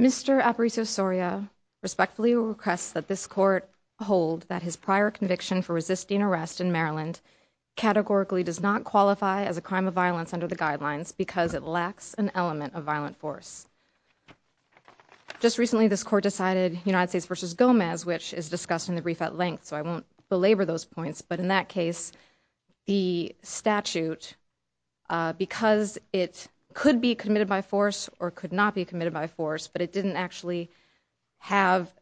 Mr. Aparicio-Soria respectfully requests that this court hold that his prior conviction for resisting arrest in Maryland categorically does not qualify as a crime of violence under the guidelines because it lacks an element of violent force. Just recently this court decided United States v. Gomez which is discussed in the brief at length so I won't belabor those points but in that case the statute because it could be committed by force or could not be committed by force but it didn't actually have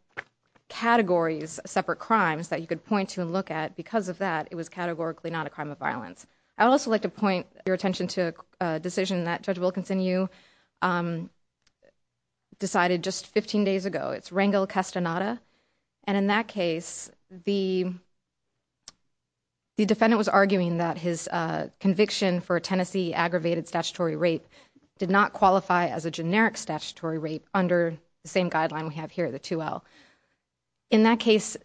categories separate crimes that you could point to and look at because of that it was categorically not a crime of violence. I would also like to point your attention to a decision that Judge Wilkinson you decided just 15 days ago it's Rangel Castaneda and in that case the defendant was arguing that his conviction for a Tennessee aggravated statutory rape did not qualify as a generic statutory rape under the same guideline we have here at the 2L. In that case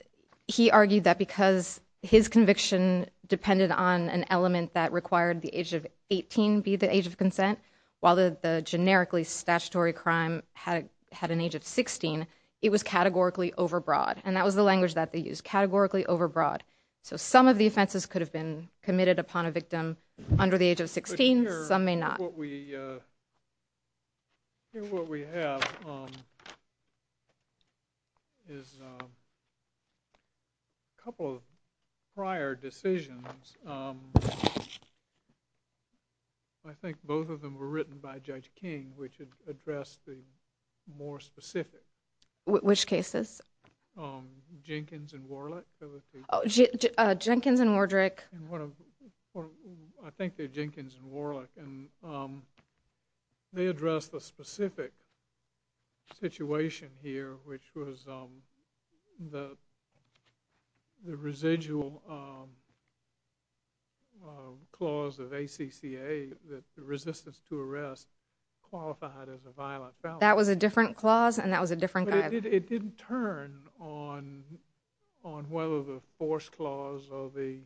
he argued that because his conviction depended on an element that required the age of 18 be the age of consent while the generically statutory crime had an age of 16 it was categorically over broad and that was the language that they used categorically over broad so some of the offenses could have been committed upon a victim under the age of 16 some may not. I think what we have is a couple of prior decisions I think both of them were written by Judge King which addressed the more specific. Which cases? Jenkins and Warlick. Jenkins and Wardrick. I think they're Jenkins and Warlick and they addressed the specific situation here which was the residual clause of ACCA that the resistance to arrest qualified as a violent felony. That was a different clause and that was a different guideline. It didn't turn on whether the force clause or the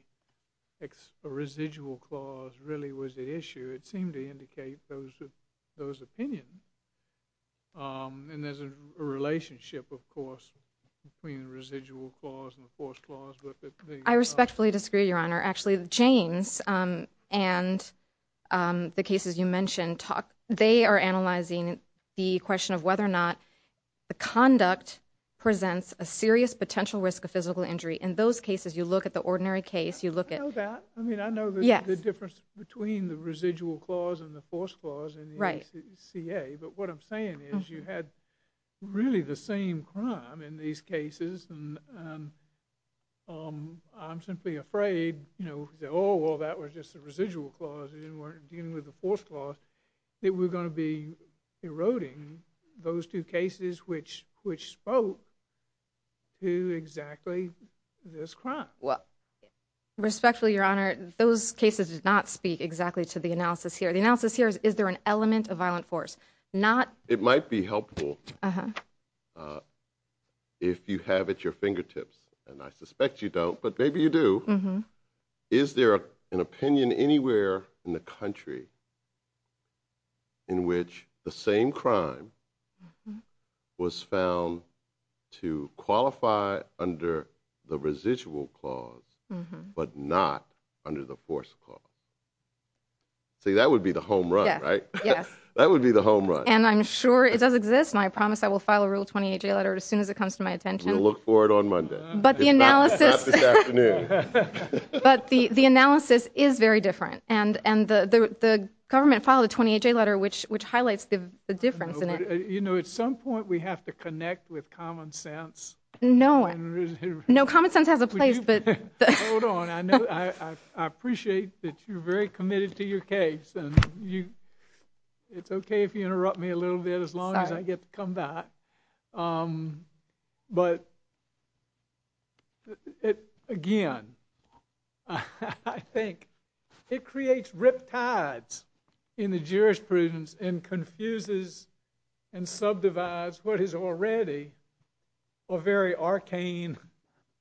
residual clause really was the issue. It seemed to indicate those opinions and there's a relationship of course between the residual clause and the force clause. I respectfully disagree Your Honor. Actually the Jaynes and the cases you mentioned they are analyzing the question of whether or not the conduct presents a serious potential risk of physical injury. In those cases you look at the ordinary case. You look at. I know that. I mean I know the difference between the residual clause and the force clause in the ACCA but what I'm saying is you had really the same crime in these cases and I'm simply afraid you know oh well that was just a residual clause and we're dealing with the force clause that we're going to be eroding those two cases which which spoke to exactly this crime. Well respectfully Your Honor those cases did not speak exactly to the analysis here. The analysis here is is there an element of violent force? It might be helpful if you have at your fingertips and I suspect you don't but maybe you do. Is there an opinion anywhere in the country in which the same crime was found to qualify under the residual clause but not under the force clause? See that would be the home run right? Yes. That would be the home run. And I'm sure it does exist and I promise I will file a Rule 28 Jay letter as soon as it comes to my attention. We'll look for it on Monday. But the analysis. Not this afternoon. But the the analysis is very different and and the the government filed a 28 Jay letter which which highlights the difference in it. You know at some point we have to connect with common sense. No no common sense has a place but hold on I know I appreciate that you're very committed to your case and you it's okay if you interrupt me a little bit as long as I get to come back. But it again I think it creates riptides in the jurisprudence and confuses and subdivides what is already a very arcane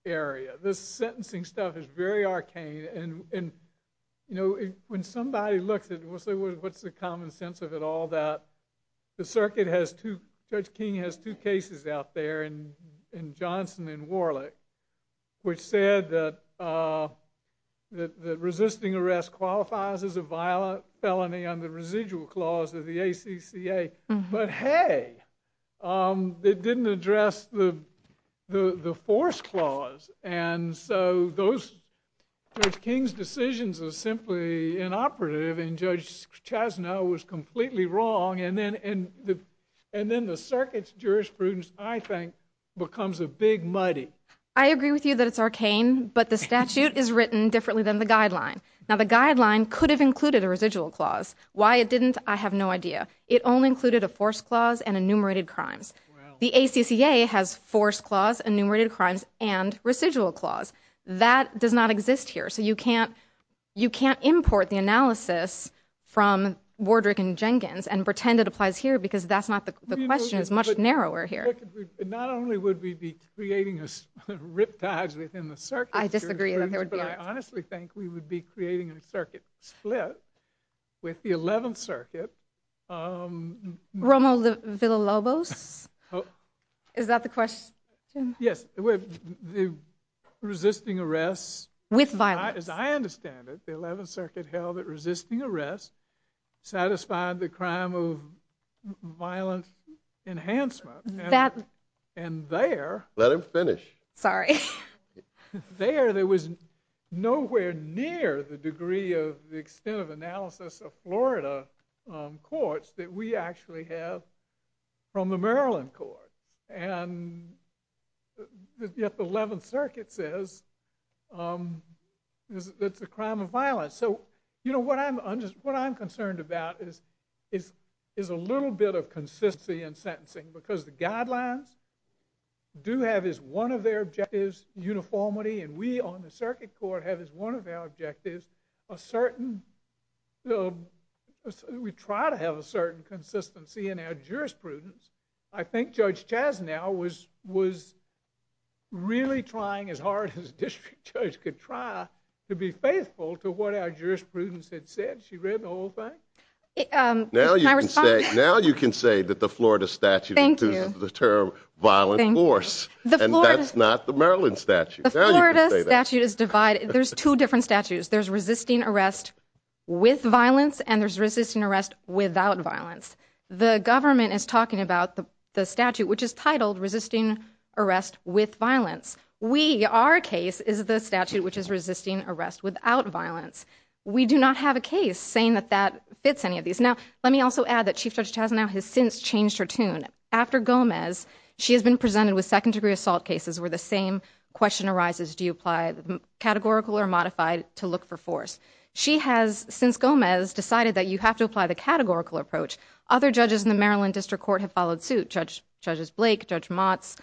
area. This sentencing stuff is very arcane and you know when somebody looks at what's the common sense of it all that the circuit has two Judge King has two cases out there and in Johnson and Warlick which said that that resisting arrest qualifies as a violent felony under residual clause of the ACCA but hey it didn't address the the the force clause and so those King's decisions are simply inoperative and Judge Chasnow was completely wrong and then and the and then the circuit's jurisprudence I think becomes a big muddy. I agree with you that it's arcane but the statute is written differently than the guideline. Now the guideline could have included a residual clause. Why it didn't I have no idea. It only included a force clause and enumerated crimes. The ACCA has force clause enumerated crimes and residual clause. That does not exist here so you can't you can't import the analysis from Wardrick and Jenkins and pretend it applies here because that's not the question is much narrower here. Not only would we be creating a riptide within the circuit. I disagree that there would be. But I honestly think we would be creating a circuit split with the 11th circuit. Romo Villa Lobos. Is that the question? Yes the resisting arrests. With violence. As I understand it the 11th circuit held that resisting arrest satisfied the crime of violent enhancement and there. Let him finish. Sorry. There there was nowhere near the degree of the extent of analysis of Florida courts that we actually have from the Maryland courts and yet the 11th circuit says that's a crime of violence. So you know what I'm just what I'm concerned about is a little bit of consistency in sentencing because the guidelines do have as one of their objectives uniformity and we on the circuit court have as one of our objectives a certain. We try to have a certain consistency in our jurisprudence. I think Judge Chasnow was was really trying as hard as a district judge could try to be faithful to what our jurisprudence had said. She read the whole thing. Now you can say now you can say that the Florida statute is the term violent force and that's not the Maryland statute. The Florida statute is divided. There's two different statutes. There's resisting arrest with violence and there's resisting arrest without violence. The government is talking about the statute which is titled resisting arrest with violence. We our case is the statute which is resisting arrest without violence. We do not have a case saying that that fits any of these. Now let me also add that Chief Judge Chasnow has since changed her tune. After Gomez she has been presented with second degree assault cases where the same question arises do you apply categorical or modified to look for force. She has since Gomez decided that you have to apply the categorical approach. Other judges in the Maryland District Court have followed suit. Judge Blake, Judge Motz.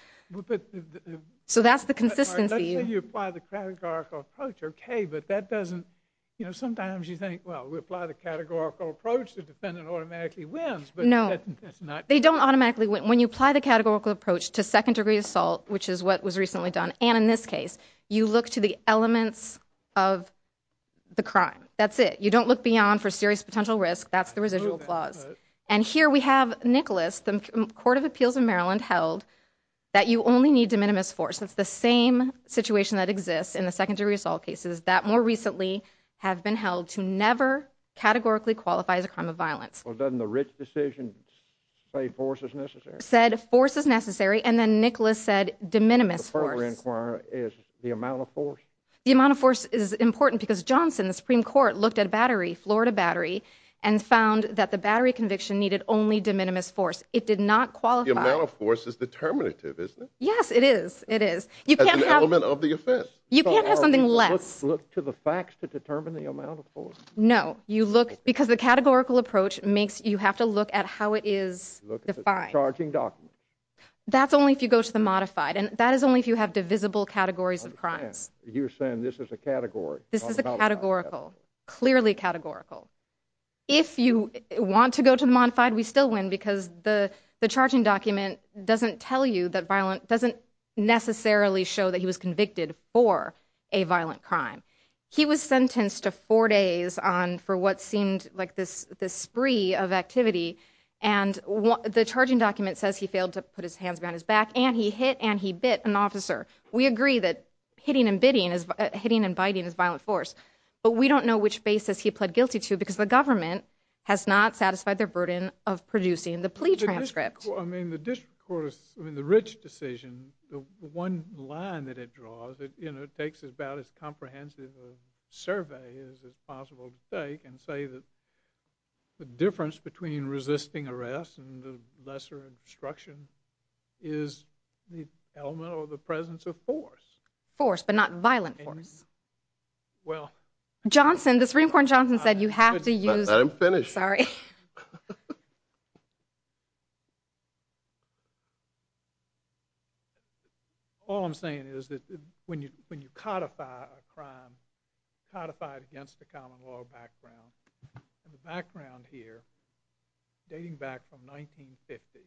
So that's the consistency. Let's say you apply the categorical approach okay but that doesn't you know sometimes you think well we apply the categorical approach the defendant automatically wins. They don't automatically win. When you apply the categorical approach to second degree assault which is what was recently done and in this case you look to the elements of the crime. That's it. You don't look beyond for serious potential risk. That's the residual clause and here we have Nicholas the Court of Appeals in Maryland held that you only need de minimis force. It's the same situation that exists in the second degree assault cases that more recently have been held to never categorically qualify as a crime of violence. Well doesn't the Rich decision say force is necessary? Said force is necessary and then Nicholas said de minimis. The amount of force. The amount of force is important because Johnson the Supreme Court looked at battery, Florida battery and found that the battery conviction needed only de minimis force. It did not qualify. The amount of force is determinative isn't it? Yes it is. It is. You can't have an element of the offense. You can't have something less. Look to the facts to determine the amount of force. No you look because the categorical approach makes you have to look at how it is defined. Charging documents. That's only if you go to the modified and that is only if you have divisible categories of crimes. You're saying this is a category. This is a categorical. Clearly categorical. If you want to go to the modified we still win because the charging document doesn't tell you that violent doesn't necessarily show that he was convicted for a violent crime. He was sentenced to four days on for what seemed like this this spree of activity and the charging document says he failed to put his hands around his back and he hit and he bit an officer. We agree that hitting and bitting is hitting and biting is violent force but we don't know which basis he pled guilty to because the government has not satisfied their burden of producing the plea transcript. I mean the district court is I mean the Rich decision the one line that it draws that you know it takes about as comprehensive a survey as possible to take and say that the difference between resisting arrest and the lesser instruction is the element or the presence of force. Force but not violent force. Well. Johnson the Supreme Court Johnson said you have to use. I'm finished. Sorry. All I'm saying is that when you when you codify a crime codified against the common law background and the background here dating back from 1950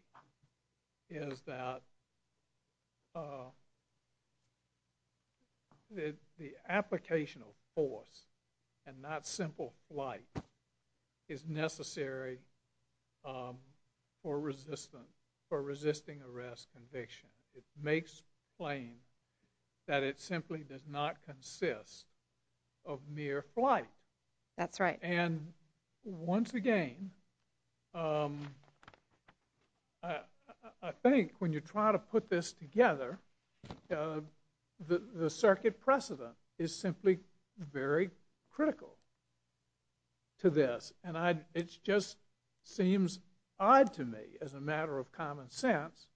is that the application of force and not simple flight is necessary for resistance for resisting arrest conviction. It makes plain that it simply does not consist of mere flight. That's right. And once again I think when you try to put this together the circuit precedent is simply very critical to this. And I it's just seems odd to me as a matter of common sense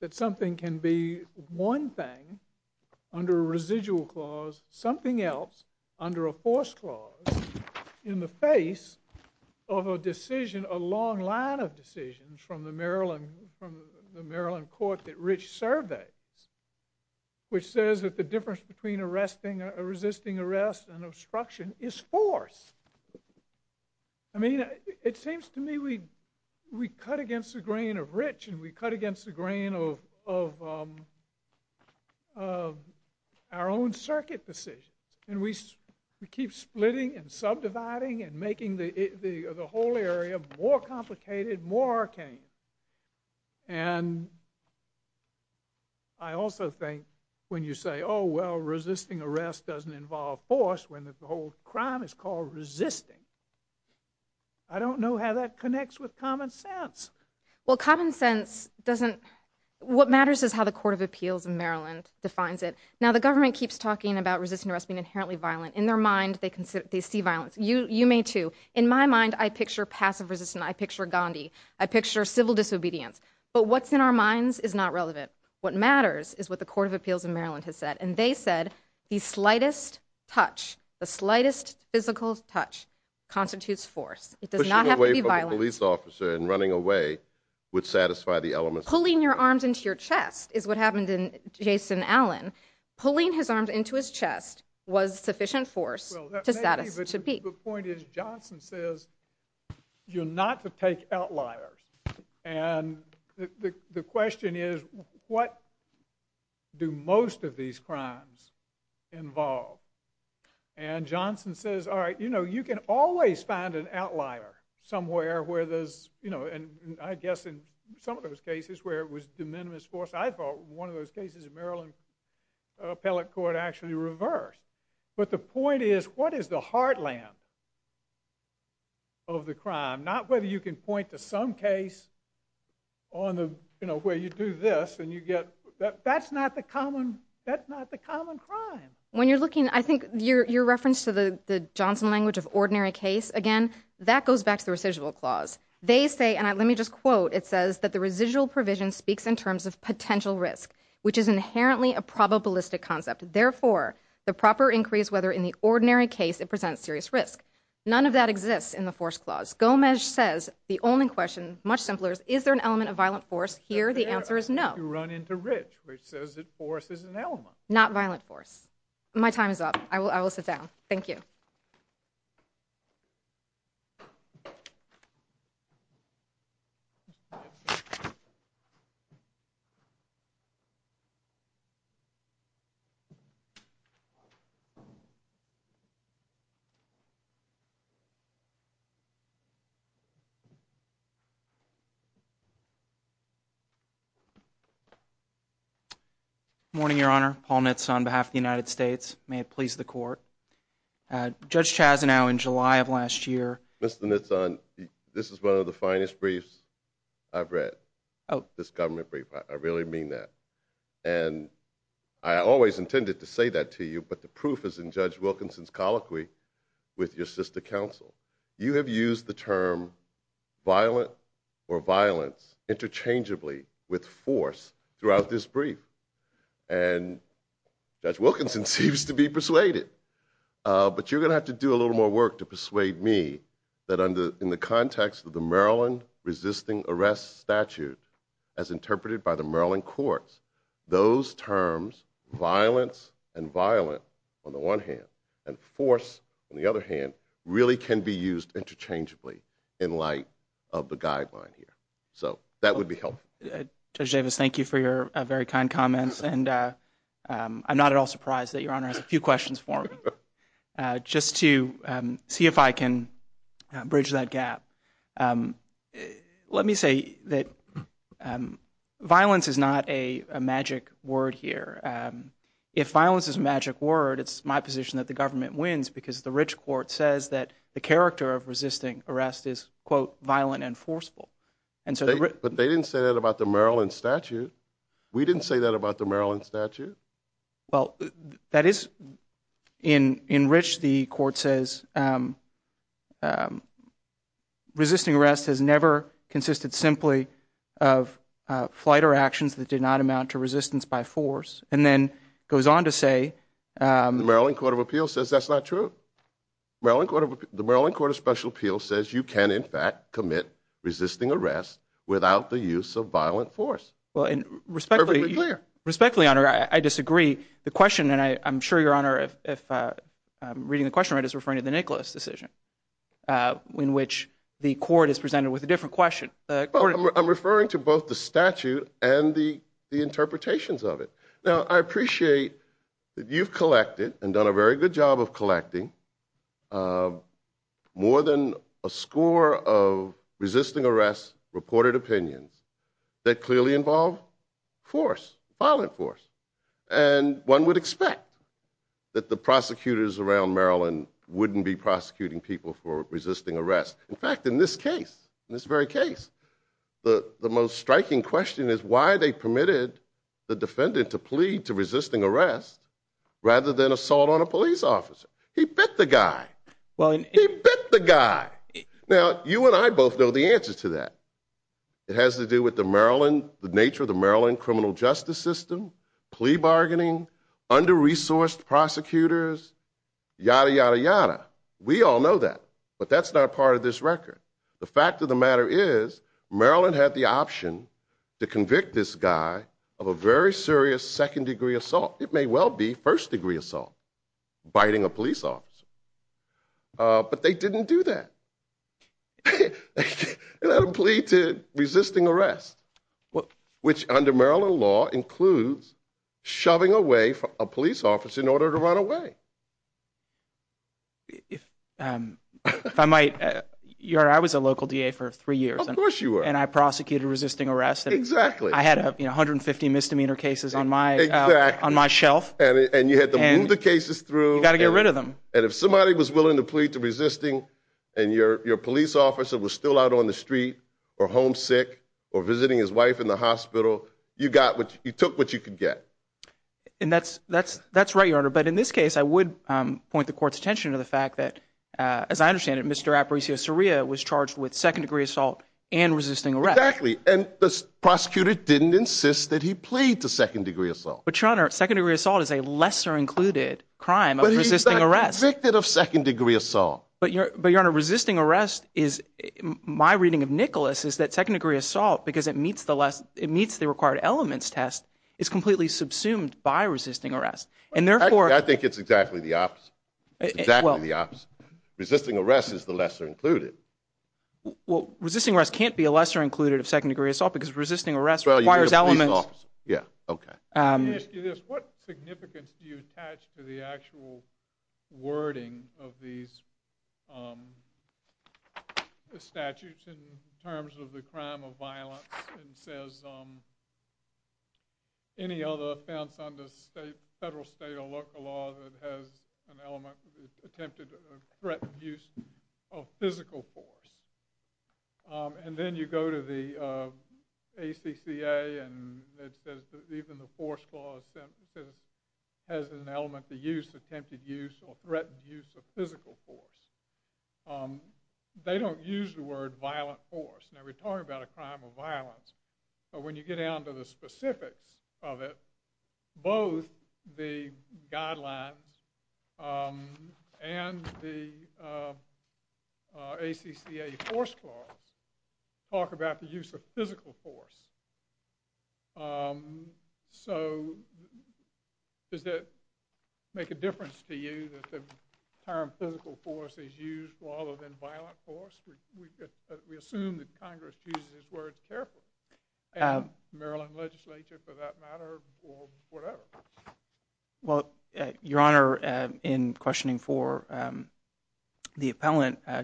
that something can be one thing under a residual clause something else under a force clause in the face of a decision a long line of decisions from the Maryland from the Maryland court that Rich surveyed which says that the difference between arresting a resisting arrest and obstruction is force. I mean it seems to me we we cut against the grain of Rich and we cut against the grain of of our own circuit decisions. And we we keep splitting and subdividing and making the the whole area more complicated more arcane. And I also think when you say oh well resisting arrest doesn't involve force when the whole crime is called resisting. I don't know how that connects with common sense. Well common sense doesn't what matters is how the court of appeals in Maryland defines it. Now the government keeps talking about resisting arrest being inherently violent in their mind they consider they see violence. You you may too. In my mind I picture passive resistance. I picture Gandhi. I picture civil disobedience. But what's in our minds is not relevant. What matters is what the court of appeals in Maryland has said. And they said the slightest touch the slightest physical touch constitutes force. It does not have to be violent. Pushing away from a police officer and running away would satisfy the elements. Pulling your arms into your chest is what happened in Jason Allen. Pulling his arms into his chest was sufficient force to satisfy. The point is Johnson says you're not to take outliers. And the question is what do most of these crimes involve? And Johnson says all right you know you can always find an outlier somewhere where there's you know and I guess in some of those cases where it was de minimis force. I thought one of those cases in Maryland appellate court actually reversed. But the point is what is the heartland of the crime? Not whether you can point to some case on the you know where you do this and you get that's not the common that's not the common crime. When you're looking I think your reference to the Johnson language of ordinary case again that goes back to the residual clause. They say and let me just quote it says that the residual provision speaks in terms of potential risk which is inherently a probabilistic concept. Therefore the proper increase whether in the ordinary case it presents serious risk. None of that exists in the force clause. Gomez says the only question much simpler is there an element of violent force here? The answer is no. You run into rich which says that force is an element. Not violent force. My time is up. I will I will sit down. Thank you. Morning your honor. Paul Knits on behalf of the United States. May it please the court. Judge Chazanow in July of last year. Mr. Knitson this is one of the finest briefs I've read. Oh. This government brief. I really mean that and I always intended to say that to you but the proof is in Judge Wilkinson's colloquy with your sister counsel. You have used the term violent or violence interchangeably with force throughout this Judge Wilkinson seems to be persuaded. But you're going to have to do a little more work to persuade me that under in the context of the Maryland resisting arrest statute as interpreted by the Maryland courts those terms violence and violent on the one hand and force on the other hand really can be used interchangeably in light of the guideline here. So that would be helpful. Judge Davis thank you for your very kind comments and I'm not at all surprised that your honor has a few questions for me just to see if I can bridge that gap. Let me say that violence is not a magic word here. If violence is a magic word it's my position that the government wins because the rich court says that the character of resisting arrest is quote violent and forceful. But they didn't say that about the Maryland statute. We didn't say that about the Maryland statute. Well that is in rich the court says resisting arrest has never consisted simply of flight or actions that did not amount to resistance by force and then goes on to say. The Maryland Court of Appeals says that's not true. Maryland Court of the Maryland Court of Special Appeals says you can in fact commit resisting arrest without the use of violent force. Well respectfully respectfully honor I disagree the question and I'm sure your honor if I'm reading the question right is referring to the Nicholas decision in which the court is presented with a different question. I'm referring to both the statute and the the interpretations of it. Now I appreciate that you've collected and done a very good job of collecting more than a score of resisting arrest reported opinions that clearly involve force violent force and one would expect that the prosecutors around Maryland wouldn't be prosecuting people for resisting arrest. In fact in this case in this very case the the most striking question is why they permitted the defendant to plead to resisting arrest rather than assault on a police officer. He bit the guy well he bit the guy now you and I both know the answer to that. It has to do with the Maryland the nature of the Maryland criminal justice system plea bargaining under-resourced prosecutors yada yada yada we all know that but that's not a part of this record. The fact of the matter is Maryland had the option to convict this guy of a very serious second degree assault it may well be first degree assault biting a police officer but they didn't do that. They had a plea to resisting arrest well which under Maryland law includes shoving away from a police officer in order to run away. If I might your I was a local DA for three years and of course you were and I prosecuted resisting arrest exactly I had you know 150 misdemeanor cases on my on my shelf and you had to move the cases through you got to get rid of them and if somebody was willing to plead to resisting and your your police officer was still out on the street or homesick or visiting his wife in the hospital you got what you took what you could get. And that's that's that's right your honor but in this case I would point the court's attention to the fact that as I understand it Mr. Aparicio-Soria was charged with second degree assault and resisting arrest exactly and the prosecutor didn't insist that he plead to second degree assault but your honor second degree assault is a lesser included crime of resisting arrest convicted of second degree assault but your but your honor resisting arrest is my reading of Nicholas is that second degree assault because it meets the less it subsumed by resisting arrest and therefore I think it's exactly the opposite exactly the opposite resisting arrest is the lesser included well resisting arrest can't be a lesser included of second degree assault because resisting arrest requires elements yeah okay what significance do you attach to the actual wording of these the statutes in terms of the crime of violence and says um any other offense under state federal state or local law that has an element attempted threatened use of physical force um and then you go to the uh acca and it says even the force clause has an element the use attempted use or threatened use of physical force um they don't use the word violent force now we're talking about a crime of violence but when you get down to the specifics of it both the guidelines um and the uh acca force clause talk about the use of physical force um so does that make a difference to you that the term physical force is used rather than violent force we assume that congress chooses his words carefully um maryland legislature for that matter or whatever well your honor uh in questioning for um the appellant uh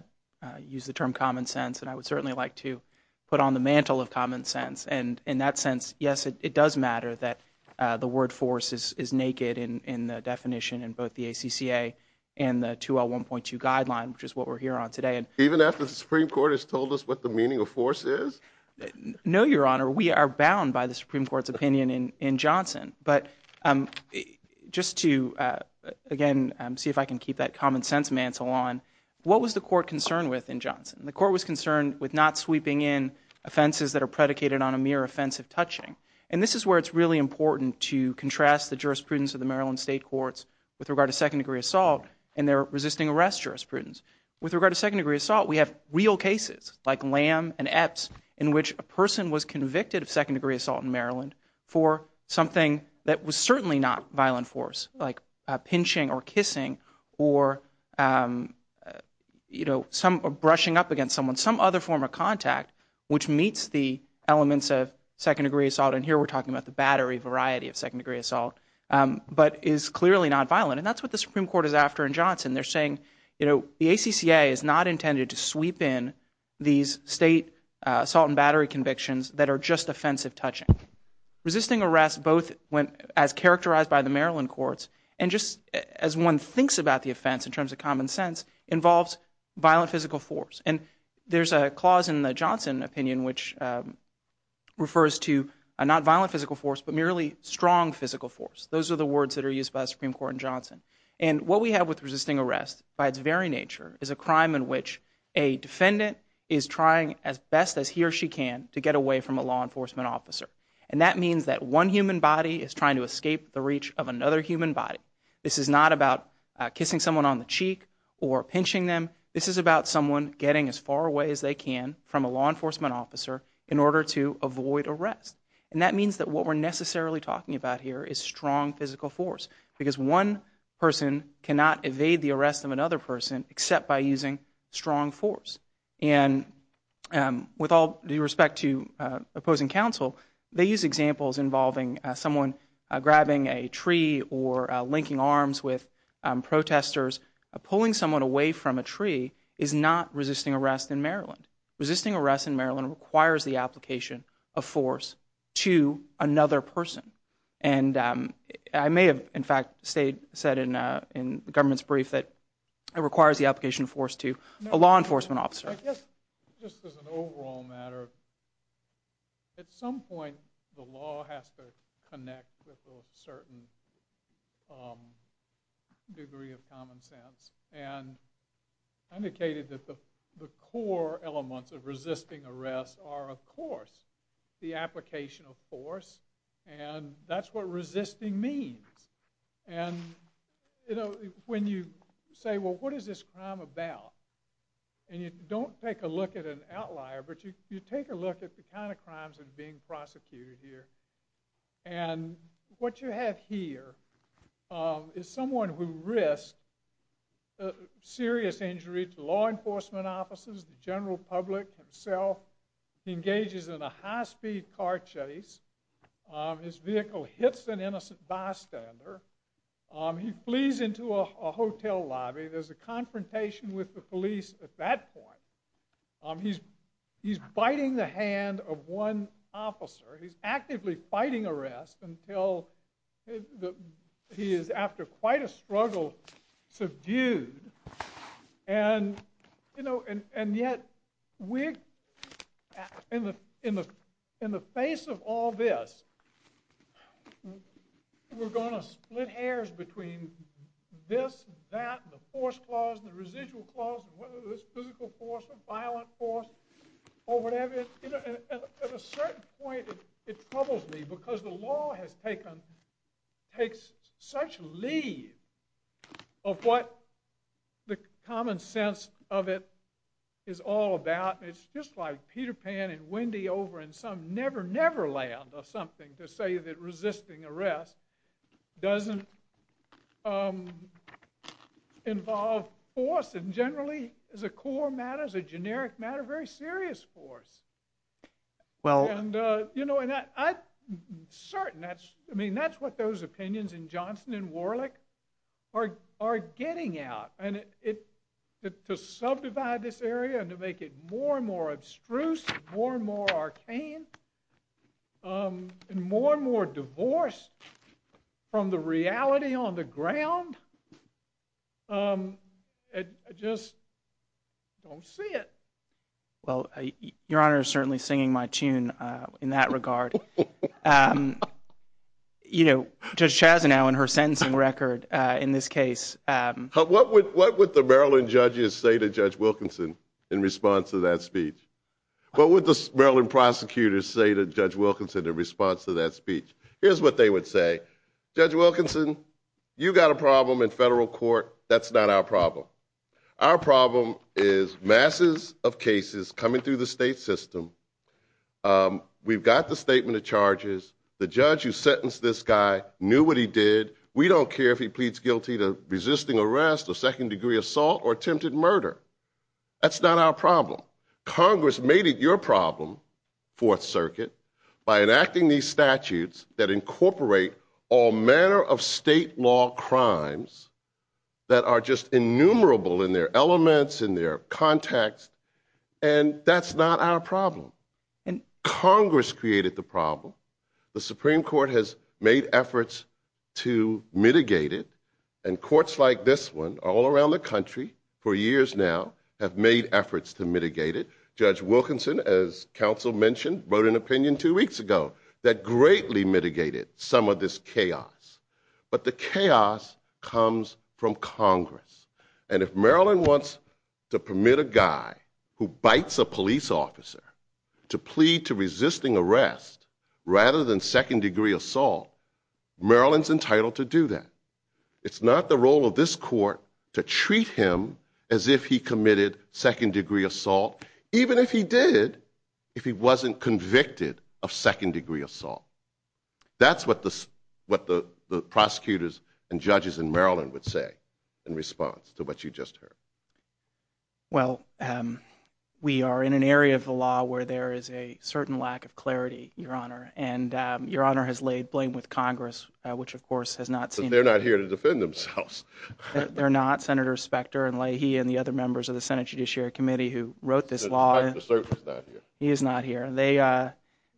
use the term common sense and I would certainly like to put on the mantle of common sense and in that sense yes it does matter that uh the word force is is naked in in the definition in both the acca and the 201.2 guideline which is what we're here on today and even after the supreme court has told us what the meaning of force is no your honor we are bound by the supreme court's opinion in in johnson but um just to uh again um see if I can keep that common sense mantle on what was the court concerned with in johnson the court was concerned with not sweeping in offenses that are predicated on a offensive touching and this is where it's really important to contrast the jurisprudence of the maryland state courts with regard to second degree assault and their resisting arrest jurisprudence with regard to second degree assault we have real cases like lamb and epps in which a person was convicted of second degree assault in maryland for something that was certainly not violent force like pinching or kissing or um you know some brushing up against someone some other form of second degree assault and here we're talking about the battery variety of second degree assault but is clearly not violent and that's what the supreme court is after in johnson they're saying you know the acca is not intended to sweep in these state assault and battery convictions that are just offensive touching resisting arrest both when as characterized by the maryland courts and just as one thinks about the offense in terms of common sense involves violent physical force and there's a clause in the johnson opinion which refers to a not violent physical force but merely strong physical force those are the words that are used by the supreme court in johnson and what we have with resisting arrest by its very nature is a crime in which a defendant is trying as best as he or she can to get away from a law enforcement officer and that means that one human body is trying to escape the reach of another human body this is not about kissing someone on the cheek or pinching them this is about someone getting as far away as they can from a law enforcement officer in order to avoid arrest and that means that what we're necessarily talking about here is strong physical force because one person cannot evade the arrest of another person except by using strong force and um with all due respect to uh opposing counsel they use examples involving someone grabbing a tree or linking arms with protesters pulling someone away from a tree is not resisting arrest in maryland resisting arrest in maryland requires the application of force to another person and um i may have in fact stayed said in uh in the government's brief that it requires the application of force to a law enforcement officer just as an point the law has to connect with a certain um degree of common sense and indicated that the the core elements of resisting arrest are of course the application of force and that's what resisting means and you know when you say well what is this crime about and you don't take a an outlier but you take a look at the kind of crimes that are being prosecuted here and what you have here is someone who risked a serious injury to law enforcement officers the general public himself he engages in a high-speed car chase his vehicle hits an innocent bystander he flees into a hotel lobby there's a confrontation with the police at that point um he's he's biting the hand of one officer he's actively fighting arrest until the he is after quite a struggle subdued and you know and and yet we're in the in the in the face of all this we're going to split hairs between this that the force clause and the residual clause whether this physical force or violent force or whatever you know at a certain point it troubles me because the law has taken takes such leave of what the common sense of it is all about it's just like peter pan and wendy over in some never never land or something to say that resisting arrest doesn't um involve force and generally as a core matter as a generic matter very serious force well and uh you know and that i'm certain that's i mean that's what those opinions in johnson and warlick are are getting out and it it to subdivide this area and to make it more and more abstruse more and more arcane um and more and more divorced from the reality on the ground um i just don't see it well your honor is certainly singing my tune uh in that regard um you know judge chaz now in her sentencing record uh in this case um what would what would the maryland judges say to judge wilkinson in response to that speech what would the maryland prosecutors say to judge wilkinson in response to that speech here's what they would say judge wilkinson you got a problem in federal court that's not our problem our problem is masses of cases coming through the state system um we've got the statement of charges the judge who sentenced this guy knew what he did we don't care if he pleads guilty to resisting arrest or second degree assault or attempted murder that's not our problem congress made it your problem fourth circuit by enacting these statutes that incorporate all manner of state law crimes that are just innumerable in their elements in their context and that's not our problem and congress created the problem the supreme court has made efforts to mitigate it and courts like this one all around the country for years now have made efforts to mitigate it judge wilkinson as council mentioned wrote an opinion two weeks ago that greatly mitigated some of this chaos but the chaos comes from congress and if maryland wants to permit a guy who bites a police officer to plead to resisting arrest rather than second degree assault maryland's entitled to do that it's not the role of this court to treat him as if he committed second degree assault even if he did if he wasn't convicted of second degree assault that's what this what the the prosecutors and judges in maryland would say in response to what you just heard well um we are in an area of the law where there is a certain lack of clarity your honor and um your honor has laid blame with congress which of course has not seen they're not here to defend themselves they're not senator specter and leahy and the other members of the senate judiciary committee who wrote this law he is not here they uh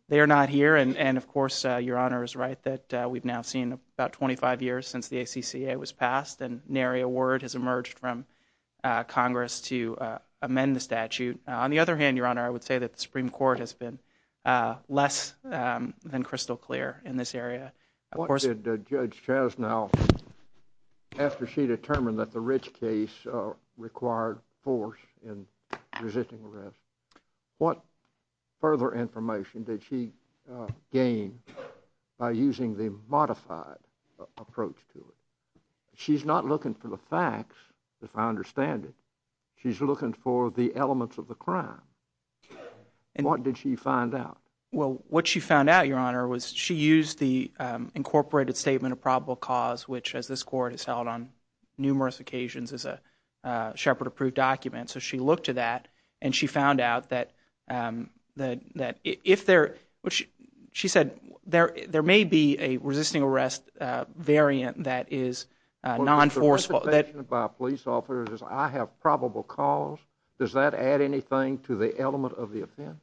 they are not here and and of course uh your honor is right that we've now seen about 25 years since the acca was passed and nary a word has emerged from uh congress to uh amend the statute on the other hand your honor i would say that the supreme court has been uh less um than crystal clear in this area of course judge chas now after she determined that the rich case uh required force in resisting arrest what further information did she gain by using the modified approach to it she's not looking for the facts if i understand it she's looking for the elements of the crime and what did she find out well what she found out your honor was she used the um incorporated statement of probable cause which as this court has held on numerous occasions as a uh shepherd approved document so she looked to that and she found out that um that that if there which she said there there may be a resisting arrest uh variant that is uh non-forceful that by police officers i have probable cause does that add anything to the element of the offense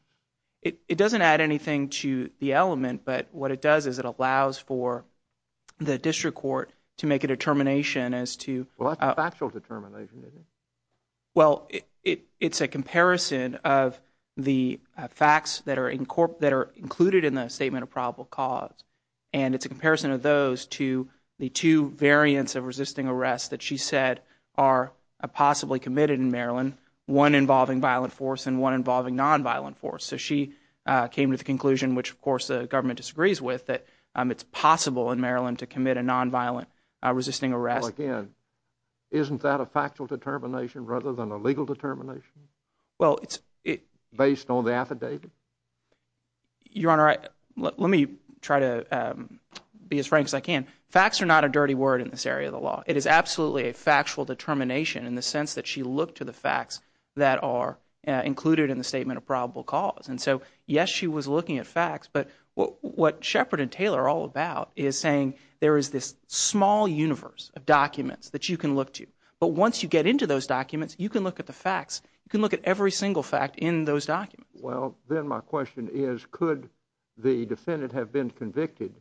it it doesn't add anything to the element but what it does is it allows for the district court to make a determination as to well that's a factual determination is it well it it's a comparison of the facts that are in court that are included in the statement of probable cause and it's a comparison of those to the two variants of resisting arrest that she said are possibly committed in maryland one involving violent force and one involving non-violent force so she uh came to the conclusion which of course the government disagrees with that um it's possible in maryland to commit a non-violent uh resisting arrest again isn't that a factual determination rather than a legal determination well it's it based on the affidavit your honor i let me try to um be as frank as i can facts are not a dirty word in this area of the law it is absolutely a factual determination in the sense that she looked to the facts that are included in the statement of probable cause and so yes she was looking at facts but what shepherd and taylor are all about is saying there is this small universe of documents that you can look to but once you get into those documents you can look at the facts you can look at every single fact in those documents well then my question is could the defendant have been convicted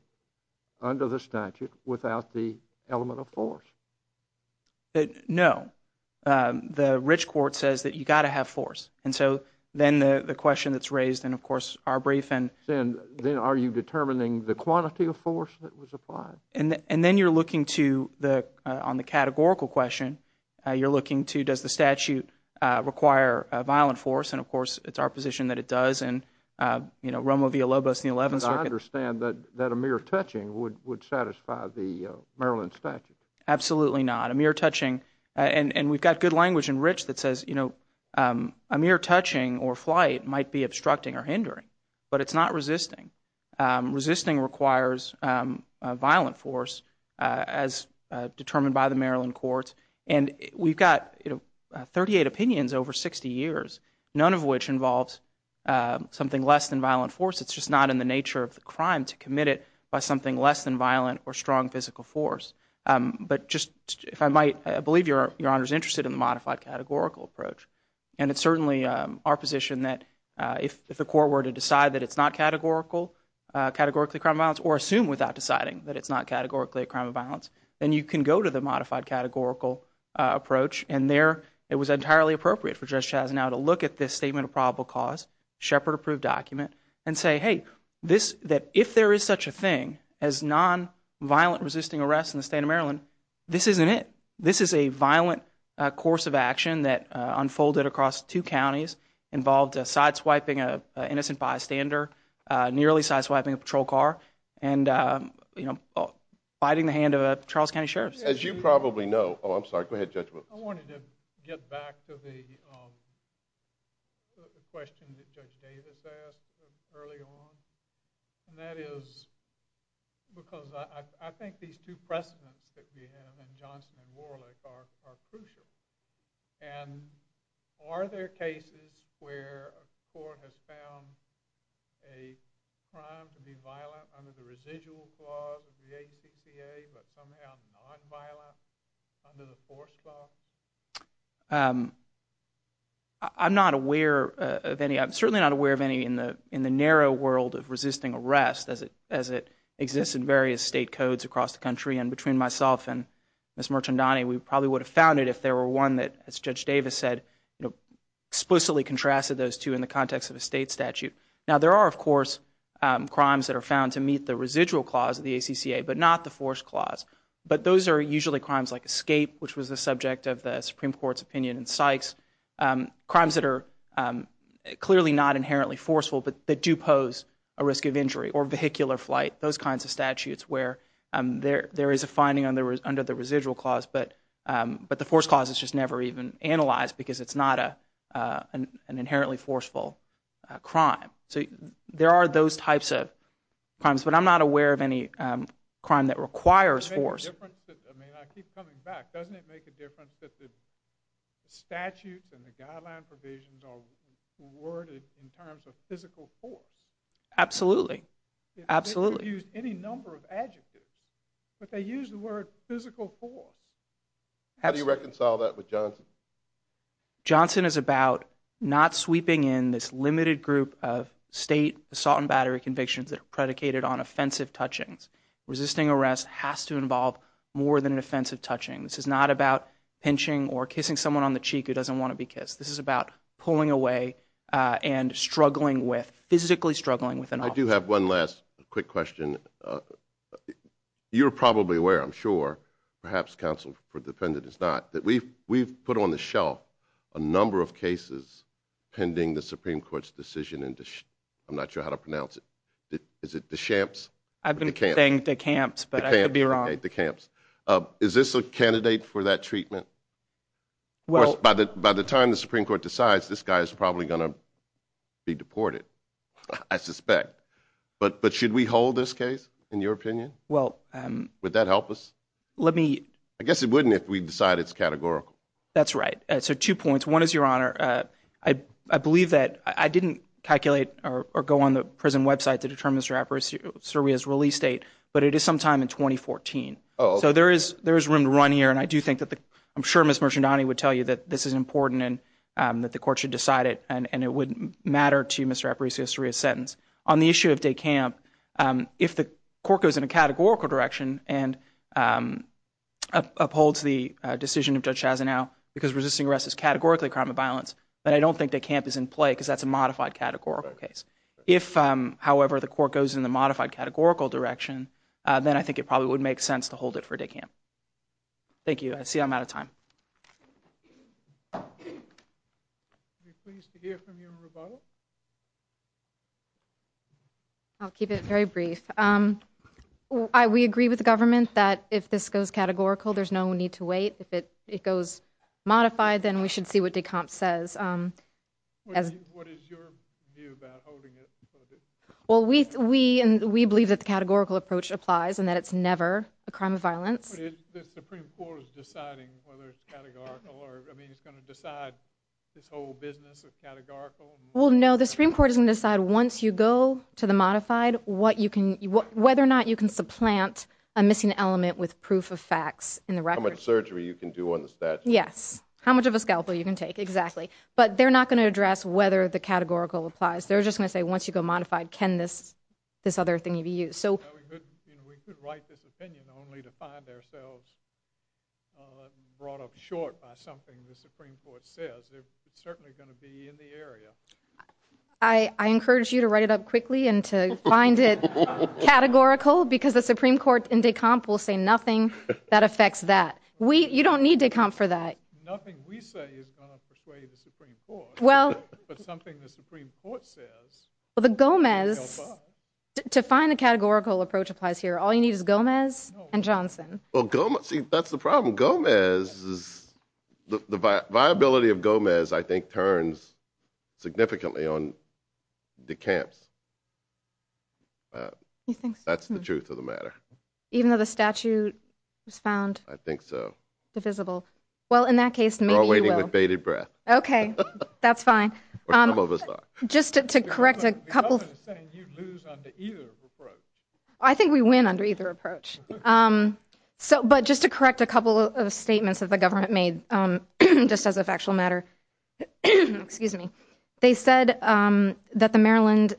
under the statute without the element of force no the rich court says that you got to have force and so then the question that's raised and of course our brief and then then are you determining the quantity of force that was the on the categorical question uh you're looking to does the statute uh require a violent force and of course it's our position that it does and uh you know romo via lobos the 11th i understand that that a mere touching would would satisfy the maryland statute absolutely not a mere touching and and we've got good language in rich that says you know um a mere touching or flight might be as determined by the maryland courts and we've got you know 38 opinions over 60 years none of which involves uh something less than violent force it's just not in the nature of the crime to commit it by something less than violent or strong physical force um but just if i might believe your your honor is interested in the modified categorical approach and it's certainly um our position that uh if the court were to decide that it's not categorical uh assume without deciding that it's not categorically a crime of violence then you can go to the modified categorical uh approach and there it was entirely appropriate for judge chas now to look at this statement of probable cause shepherd approved document and say hey this that if there is such a thing as non-violent resisting arrest in the state of maryland this isn't it this is a violent course of action that unfolded across two counties involved a side swiping a you know fighting the hand of a charles county sheriff as you probably know oh i'm sorry go ahead judge i wanted to get back to the um the question that judge davis asked early on and that is because i i think these two precedents that we have and johnson and warlick are are the acca but somehow non-violent under the force law um i'm not aware of any i'm certainly not aware of any in the in the narrow world of resisting arrest as it as it exists in various state codes across the country and between myself and miss merchant donnie we probably would have found it if there were one that as judge davis said you know explicitly contrasted those two in the context of a state statute now there are of course um crimes that are found to meet the residual clause of the acca but not the force clause but those are usually crimes like escape which was the subject of the supreme court's opinion in sykes um crimes that are um clearly not inherently forceful but that do pose a risk of injury or vehicular flight those kinds of statutes where um there there is a finding on the under the residual clause but um but the force clause is just never even analyzed because it's not a uh an inherently forceful crime so there are those types of crimes but i'm not aware of any um crime that requires force i mean i keep coming back doesn't it make a difference that the statutes and the guideline provisions are worded in terms of physical force absolutely absolutely use any number of adjectives but they use the word physical force how do you reconcile that with johnson johnson is about not sweeping in this limited group of state assault and battery convictions that are predicated on offensive touchings resisting arrest has to involve more than an offensive touching this is not about pinching or kissing someone on the cheek who doesn't want to be kissed this is about pulling away uh and struggling with physically struggling with an i do have one last quick question uh you're probably aware i'm sure perhaps counsel for defendant is not that we've we've put on the shelf a number of cases pending the supreme court's decision and i'm not sure how to pronounce it is it the champs i've been saying the camps but i could be wrong the camps uh is this a candidate for that treatment well by the by the time the supreme court decides this guy is probably going to be deported i suspect but but should we hold this case in your opinion well um would that help us let me i guess it wouldn't if we decide it's categorical that's right so two points one is your honor uh i i believe that i didn't calculate or or go on the prison website to determine mr apparecio serbia's release date but it is sometime in 2014 so there is there is room to run here and i do think that the i'm sure miss mercendani would tell you that this is important and um that the court should decide it and and it wouldn't matter to mr apparecio serbia's sentence on the issue of day camp um if the court goes in a categorical direction and um upholds the decision of judge chasanow because resisting arrest is categorically crime of violence but i don't think the camp is in play because that's a modified categorical case if um however the court goes in the modified categorical direction uh then i think it probably would make sense to hold it for day camp thank you i see i'm out of time um are you pleased to hear from you in rebuttal i'll keep it very brief um i we agree with the government that if this goes categorical there's no need to wait if it it goes modified then we should see what decomp says um what is your view about holding it well we we and we believe that the categorical approach applies and that it's never a crime of violence the supreme court is deciding whether it's or i mean it's going to decide this whole business of categorical well no the supreme court is going to decide once you go to the modified what you can whether or not you can supplant a missing element with proof of facts in the record surgery you can do on the statue yes how much of a scalpel you can take exactly but they're not going to address whether the categorical applies they're just going to say once you go modified can this this other thing so we could you know we could write this opinion only to find ourselves brought up short by something the supreme court says they're certainly going to be in the area i i encourage you to write it up quickly and to find it categorical because the supreme court and decomp will say nothing that affects that we you don't need to come for that nothing we say is going to persuade the supreme court well but something the supreme court says the gomez to find a categorical approach applies here all you need is gomez and johnson well gomez see that's the problem gomez is the viability of gomez i think turns significantly on the camps uh you think that's the truth of the matter even though the statute was found i think so divisible well in that case maybe you're waiting with bated breath okay that's fine um just to correct a couple of saying you'd lose under either approach i think we win under either approach um so but just to correct a couple of statements that the government made um just as a factual matter excuse me they said um that the maryland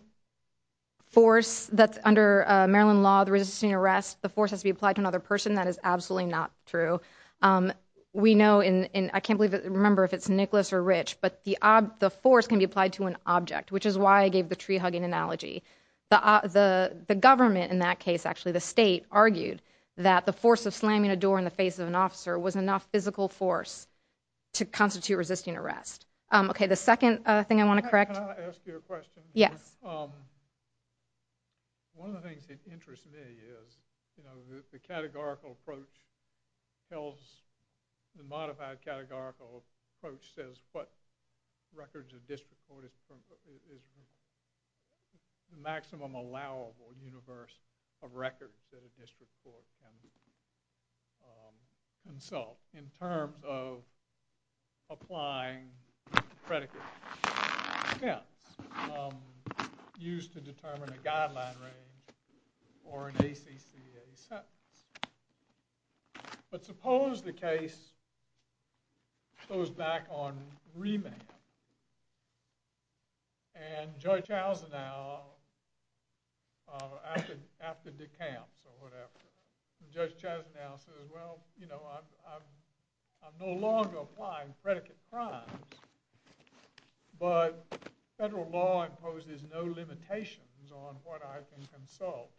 force that's under maryland law the resisting arrest the force has to be applied to another person that is absolutely not true um we know in in i can't believe it remember if it's nicholas or rich but the the force can be applied to an object which is why i gave the tree hugging analogy the the the government in that case actually the state argued that the force of slamming a door in the face of an officer was enough physical force to constitute resisting arrest um okay the second uh thing i want to correct can i ask you a question yes um one of the things that interests me is you know the categorical approach tells the modified categorical approach says what records of district court is from is the maximum allowable universe of records that a district court can consult in terms of applying predicate yeah um used to determine a guideline range or an acca sentence but suppose the case goes back on remand and judge houser now uh after after the camps or whatever judge chas now says well you know i'm i'm i'm no longer applying predicate crimes but federal law imposes no limitations on what i can consult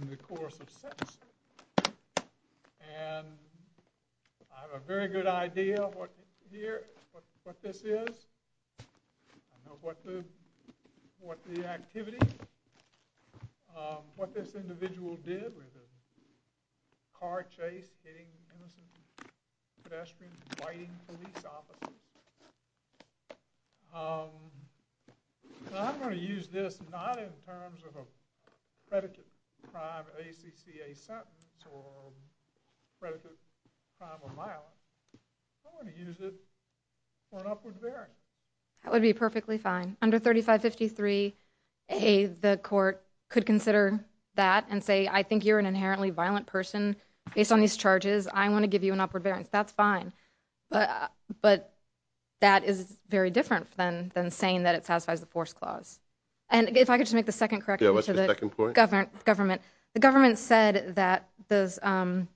in the course of sentence and i have a very good idea of what here what this is i know what the what the activity um what this individual did with a car chase getting innocent pedestrian fighting police officer um i'm going to use this not in terms of a predicate crime acca sentence or predicate crime of violence i'm going to use it for an upward bearing that would be perfectly fine under 35 53 a the court could consider that and say i think you're an inherently violent person based on these charges i want to give you an upward variance that's fine but but that is very different than than saying that it satisfies the force clause and if i could just make the second correct yeah what's the second point government government the government said that those um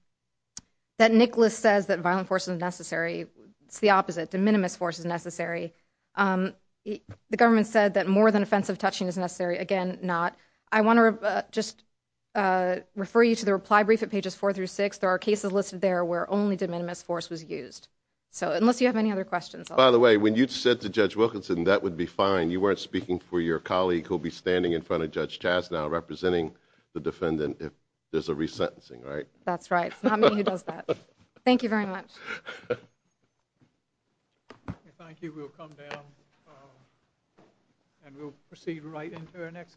that nicholas says that violent force is necessary it's the opposite de minimis force is necessary um the government said that more than offensive touching is necessary again not i want to just uh refer you to the reply brief at pages four through six there are cases listed there where only de minimis force was used so unless you have any other questions by the way when you said to judge wilkinson that would be fine you weren't speaking for your colleague who'll be standing in front of judge chas now representing the defendant if there's a resentencing right that's right it's not me who does that thank you much thank you we'll come down and we'll proceed right into our next catch